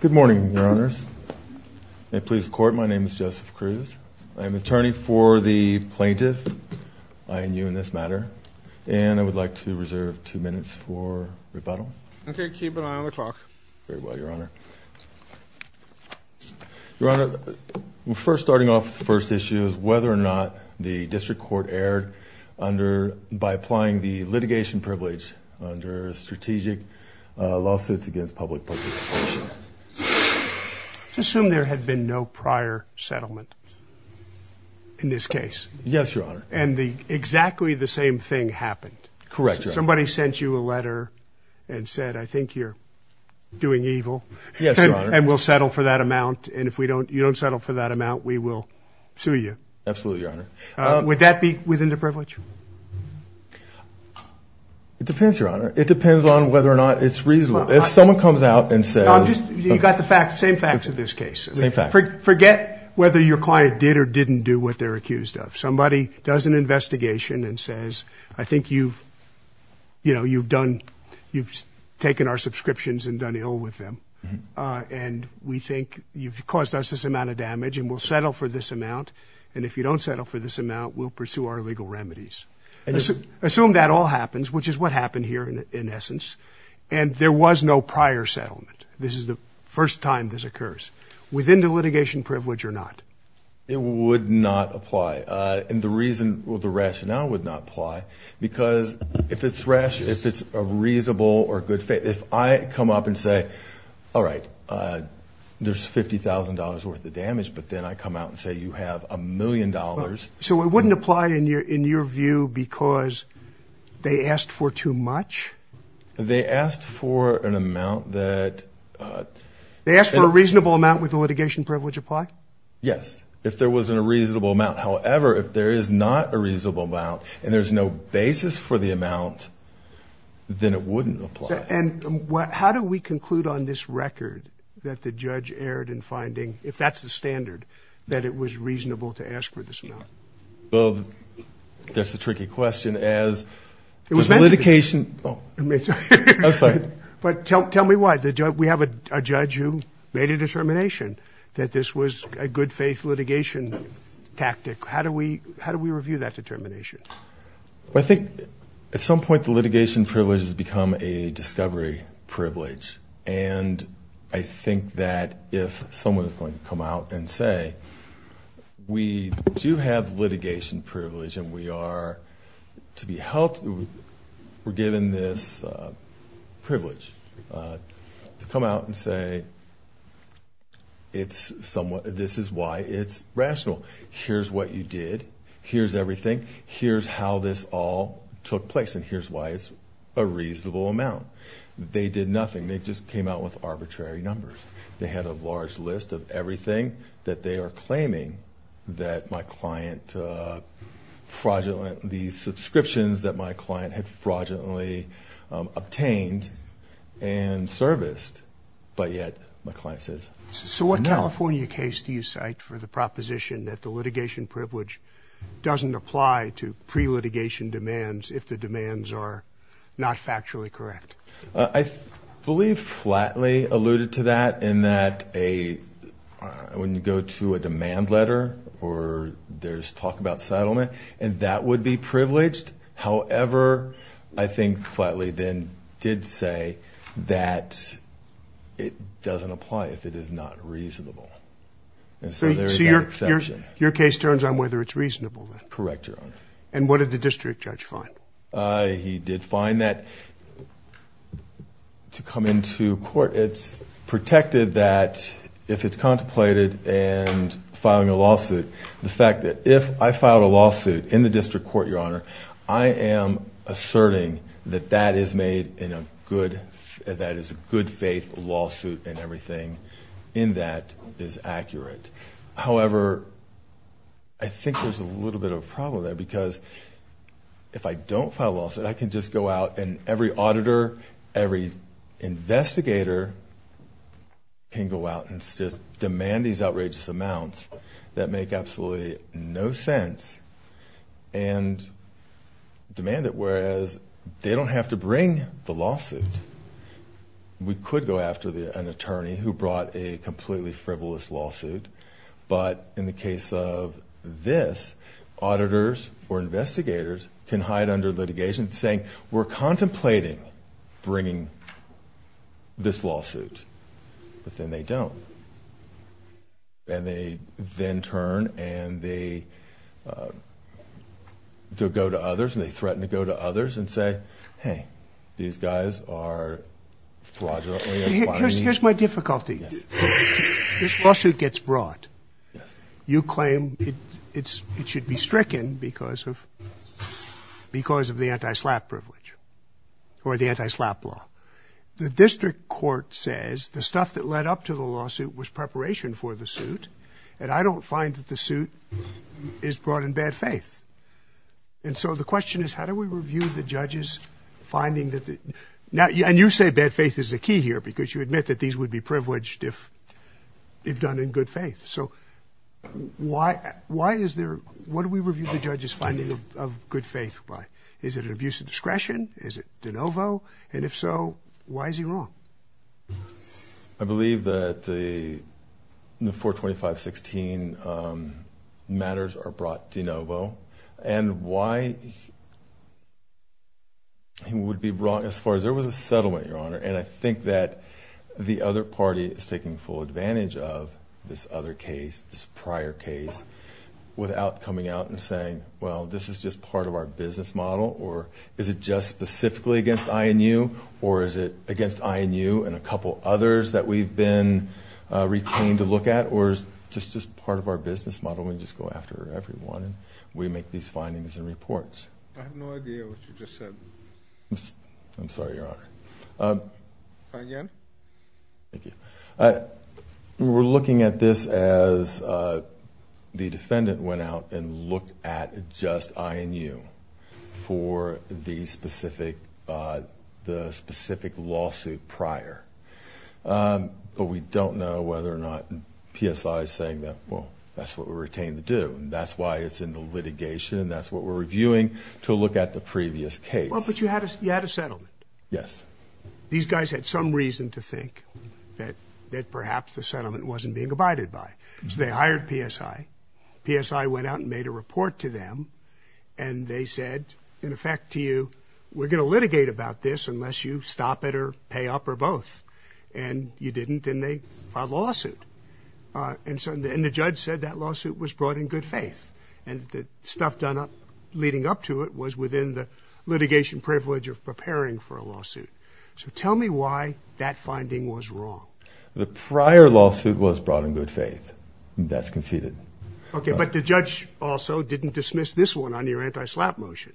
Good morning, Your Honors. May it please the Court, my name is Joseph Cruz. I am attorney for the plaintiff, I and U in this matter, and I would like to reserve two minutes for rebuttal. Okay, keep an eye on the clock. Very well, Your Honor. Your Honor, first starting off the first issue is whether or not the District Court erred by applying the litigation privilege under a strategic lawsuit against Publishers Solutions. Let's assume there had been no prior settlement in this case. Yes, Your Honor. And exactly the same thing happened. Correct, Your Honor. Somebody sent you a letter and said, I think you're doing evil, and we'll settle for that amount, and if you don't settle for that amount, we will sue you. Absolutely, Your Honor. Would that be within the privilege? It depends, Your Honor. It depends on whether or not it's reasonable. If someone comes out and says... You got the fact, same facts of this case. Same facts. Forget whether your client did or didn't do what they're accused of. Somebody does an investigation and says, I think you've, you know, you've done, you've taken our subscriptions and done ill with them, and we think you've caused us this amount of damage, and we'll settle for this amount, and if you don't settle for this amount, we'll pursue our legal remedies. Assume that all happens, which is what happened here in essence, and there was no prior settlement. This is the first time this occurs. Within the litigation privilege or not? It would not apply. And the reason, well, the rationale would not apply, because if it's rational, if it's a reasonable or good, if I come up and say, all right, there's $50,000 worth of damage, but then I come out and say you have a million dollars. So it wouldn't apply in your view because they asked for too much? They asked for an amount that... They asked for a reasonable amount, would the litigation privilege apply? Yes, if there wasn't a reasonable amount. However, if there is not a reasonable amount, and there's no basis for the amount, then it wouldn't apply. And how do we conclude on this record that the judge erred in finding, if that's the standard, that it was reasonable to ask for this amount? Well, that's a tricky question as... It was mentioned... The litigation... But tell me why. We have a judge who made a determination that this was a good faith litigation tactic. How do we review that determination? I think at some point the litigation privilege has become a discovery privilege. And I think that if someone is going to come out and say, we do have litigation privilege, and we are to be held... We're given this privilege to come out and say, this is why it's rational. Here's what you did. Here's everything. Here's how this all took place, and here's why it's a reasonable amount. They did nothing. They just came out with arbitrary numbers. They had a large list of everything that they are claiming that my client fraudulent... The subscriptions that my client had fraudulently obtained and serviced, but yet my client says... So what California case do you cite for the litigation demands if the demands are not factually correct? I believe Flatley alluded to that in that a... When you go to a demand letter, or there's talk about settlement, and that would be privileged. However, I think Flatley then did say that it doesn't apply if it is not reasonable. And so there is that exception. So your case turns on whether it's a district judge fine. He did fine that. To come into court, it's protected that if it's contemplated and filing a lawsuit, the fact that if I filed a lawsuit in the district court, your honor, I am asserting that that is made in a good... That is a good faith lawsuit and everything in that is accurate. However, I think there's a little bit of a problem there because if I don't file a lawsuit, I can just go out and every auditor, every investigator can go out and just demand these outrageous amounts that make absolutely no sense and demand it, whereas they don't have to bring the lawsuit. We could go after an attorney who brought a completely frivolous lawsuit, but in the case of this, auditors or investigators can hide under litigation saying, we're contemplating bringing this lawsuit, but then they don't. And they then turn and they go to others, and they threaten to go to others and say, hey, these guys are fraudulently applying... Here's my difficulty. This lawsuit gets brought. You claim it should be stricken because of the anti-slap privilege or the anti-slap law. The district court says the stuff that led up to the lawsuit was preparation for the suit, and I don't find that the suit is brought in bad faith. And so the question is, how do we review the judges finding that the... And you say bad faith is the key here because you admit that these would be privileged if they've done in good faith. So why is there... What do we review the judges finding of good faith by? Is it an abuse of discretion? Is it de novo? And if so, why is he wrong? I believe that the 425-16 matters are brought de novo, and why he would be wrong as far as there was a settlement, Your Honor. And I think that the other party is taking full advantage of this other case, this prior case, without coming out and saying, well, this is just part of our business model, or is it just specifically against INU, or is it against INU and a couple others that we've been retained to look at, or is it just part of our business model and we just go after everyone and we make these findings and reports? I have no idea what you just said. I'm sorry, Your Honor. Again. Thank you. We're looking at this as the defendant went out and looked at just INU for the specific lawsuit prior. But we don't know whether or not PSI is saying that, well, that's what we're retained to do, and that's why it's in the litigation, and that's what we're reviewing to look at the previous case. But you had a settlement. Yes. These guys had some reason to think that perhaps the settlement wasn't being abided by. So they hired PSI. PSI went out and made a report to them, and they said, in effect, to you, we're going to litigate about this unless you stop it or pay up or both. And you didn't, and they filed a lawsuit. And the judge said that lawsuit was brought in good faith. And the stuff done up leading up to it was within the litigation privilege of preparing for a lawsuit. So tell me why that finding was wrong. The prior lawsuit was brought in good faith. That's conceded. Okay. But the judge also didn't dismiss this one on your anti-slap motion.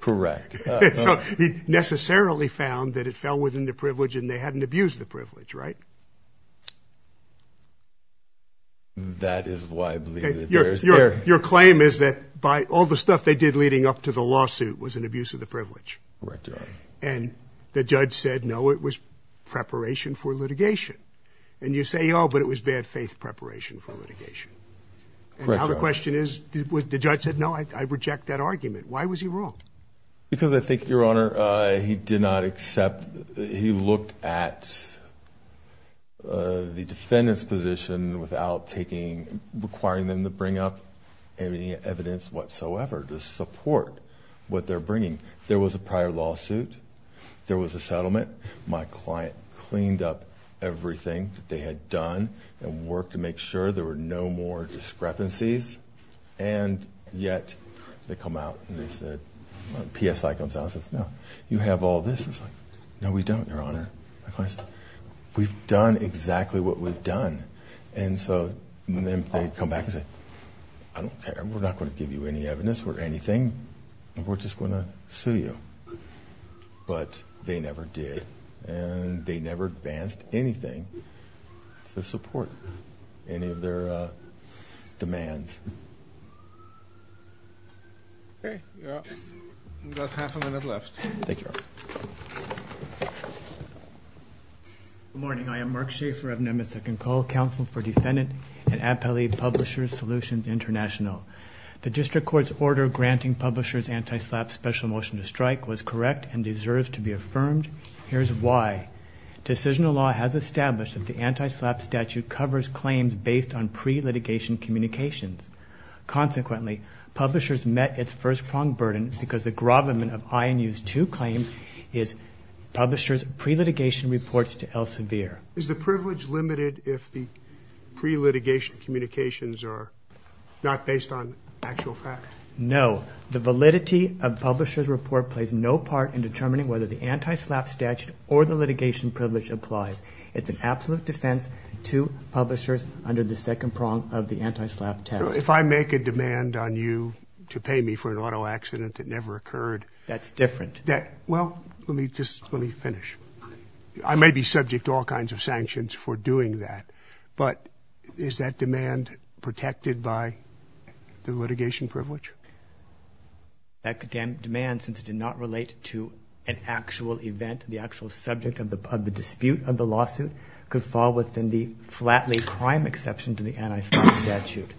Correct. So he necessarily found that it fell within the privilege and they hadn't abused the privilege, right? That is why I believe that there's... Your claim is that all the stuff they did leading up to the lawsuit was an abuse of the privilege. Correct, Your Honor. And the judge said, no, it was preparation for litigation. And you say, oh, but it was bad faith preparation for litigation. Correct, Your Honor. And now the question is, the judge said, no, I reject that argument. Why was he wrong? Because I think, Your Honor, he did not accept, he looked at the defendant's position without taking, requiring them to bring up any evidence whatsoever to support what they're bringing. There was a prior lawsuit. There was a settlement. My client cleaned up everything that they had done and worked to make sure there were no more discrepancies. And yet they come out and they said, PSI comes out and says, no, you have all this. It's like, no, we don't, Your Honor. My client says, we've done exactly what we've done. And so then they come back and say, I don't care. We're not going to give you any evidence or anything. We're just going to sue you. But they never did. And they never advanced anything to support any of their demands. Okay. We've got half a minute left. Thank you, Your Honor. Good morning. I am Mark Schaefer of Nemeth Second Call Counsel for Defendant and Appellee Publishers Solutions International. The District Court's order granting publishers anti-SLAPP special motion to strike was correct and deserves to be affirmed. Here's why. Decisional law has established that the anti-SLAPP statute covers claims based on pre-litigation communications. Consequently, publishers met its first-pronged burden because the gravamen of INU's two claims is publishers' pre-litigation reports to Elsevier. Is the privilege limited if the pre-litigation communications are not based on actual fact? No. The validity of publishers' report plays no part in determining whether the anti-SLAPP statute or the litigation privilege applies. It's an absolute defense to publishers under the second prong of the anti-SLAPP test. If I make a demand on you to pay me for an auto accident that never occurred... That's different. Well, let me just finish. I may be subject to all kinds of sanctions for doing that, but is that demand protected by the litigation privilege? That demand, since it did not relate to an actual event, the actual subject of the dispute of the lawsuit, could fall within the flatly crime exception to the anti-SLAPP statute.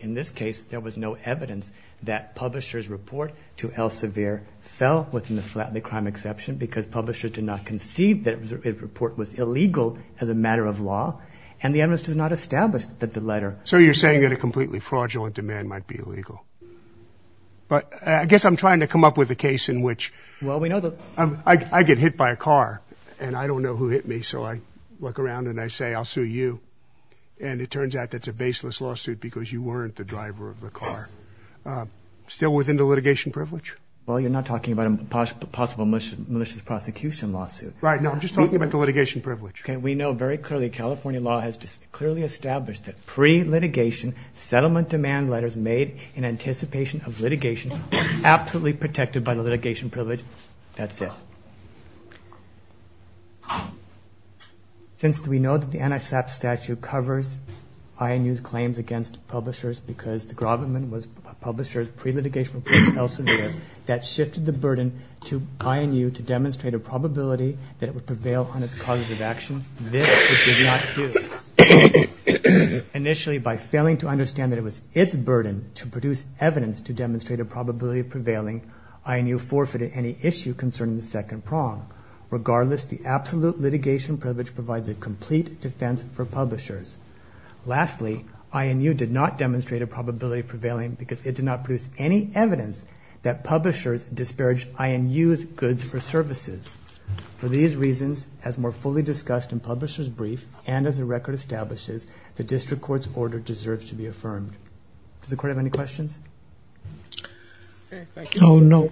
In this case, there was no evidence that publishers' report to Elsevier fell within the flatly crime exception because publishers did not conceive that a report was illegal as a matter of law, and the evidence does not establish that the letter... But I guess I'm trying to come up with a case in which... Well, we know that... I get hit by a car, and I don't know who hit me, so I look around and I say, I'll sue you, and it turns out that's a baseless lawsuit because you weren't the driver of the car. Still within the litigation privilege? Well, you're not talking about a possible malicious prosecution lawsuit. Right, no, I'm just talking about the litigation privilege. Okay, we know very clearly California law has clearly established that pre-litigation settlement demand letters made in anticipation of litigation are absolutely protected by the litigation privilege. That's it. Since we know that the anti-SLAPP statute covers INU's claims against publishers because the Grobman was a publisher's pre-litigation report to Elsevier that shifted the burden to INU to demonstrate a probability that it would prevail on its causes of action. This it did not do. Initially, by failing to understand that it was its burden to produce evidence to demonstrate a probability of prevailing, INU forfeited any issue concerning the second prong. Regardless, the absolute litigation privilege provides a complete defense for publishers. Lastly, INU did not demonstrate a probability of prevailing because it did not produce any evidence that publishers disparaged INU's goods or services. For these reasons, as more fully discussed in Publisher's Brief and as the record establishes, the district court's order deserves to be affirmed. Does the court have any questions? Okay, thank you. Oh, no.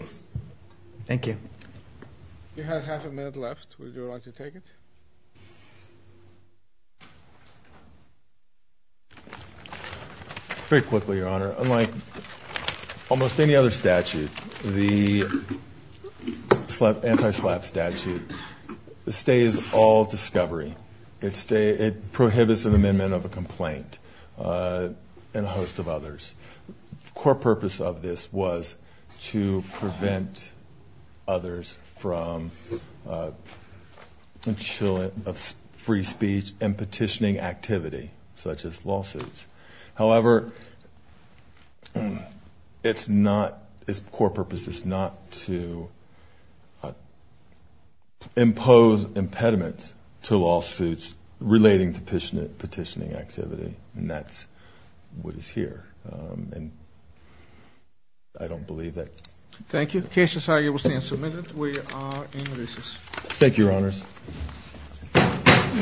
Thank you. You have half a minute left. Would you like to take it? Very quickly, Your Honor. Unlike almost any other statute, the anti-SLAPP statute stays all discovery. It prohibits an amendment of a complaint and a host of others. The core purpose of this was to prevent others from free speech and petitioning activity, such as lawsuits. However, its core purpose is not to impose impediments to lawsuits relating to petitioning activity, and that's what is here. I don't believe that. Thank you. The case is hereby submitted. Thank you, Your Honors.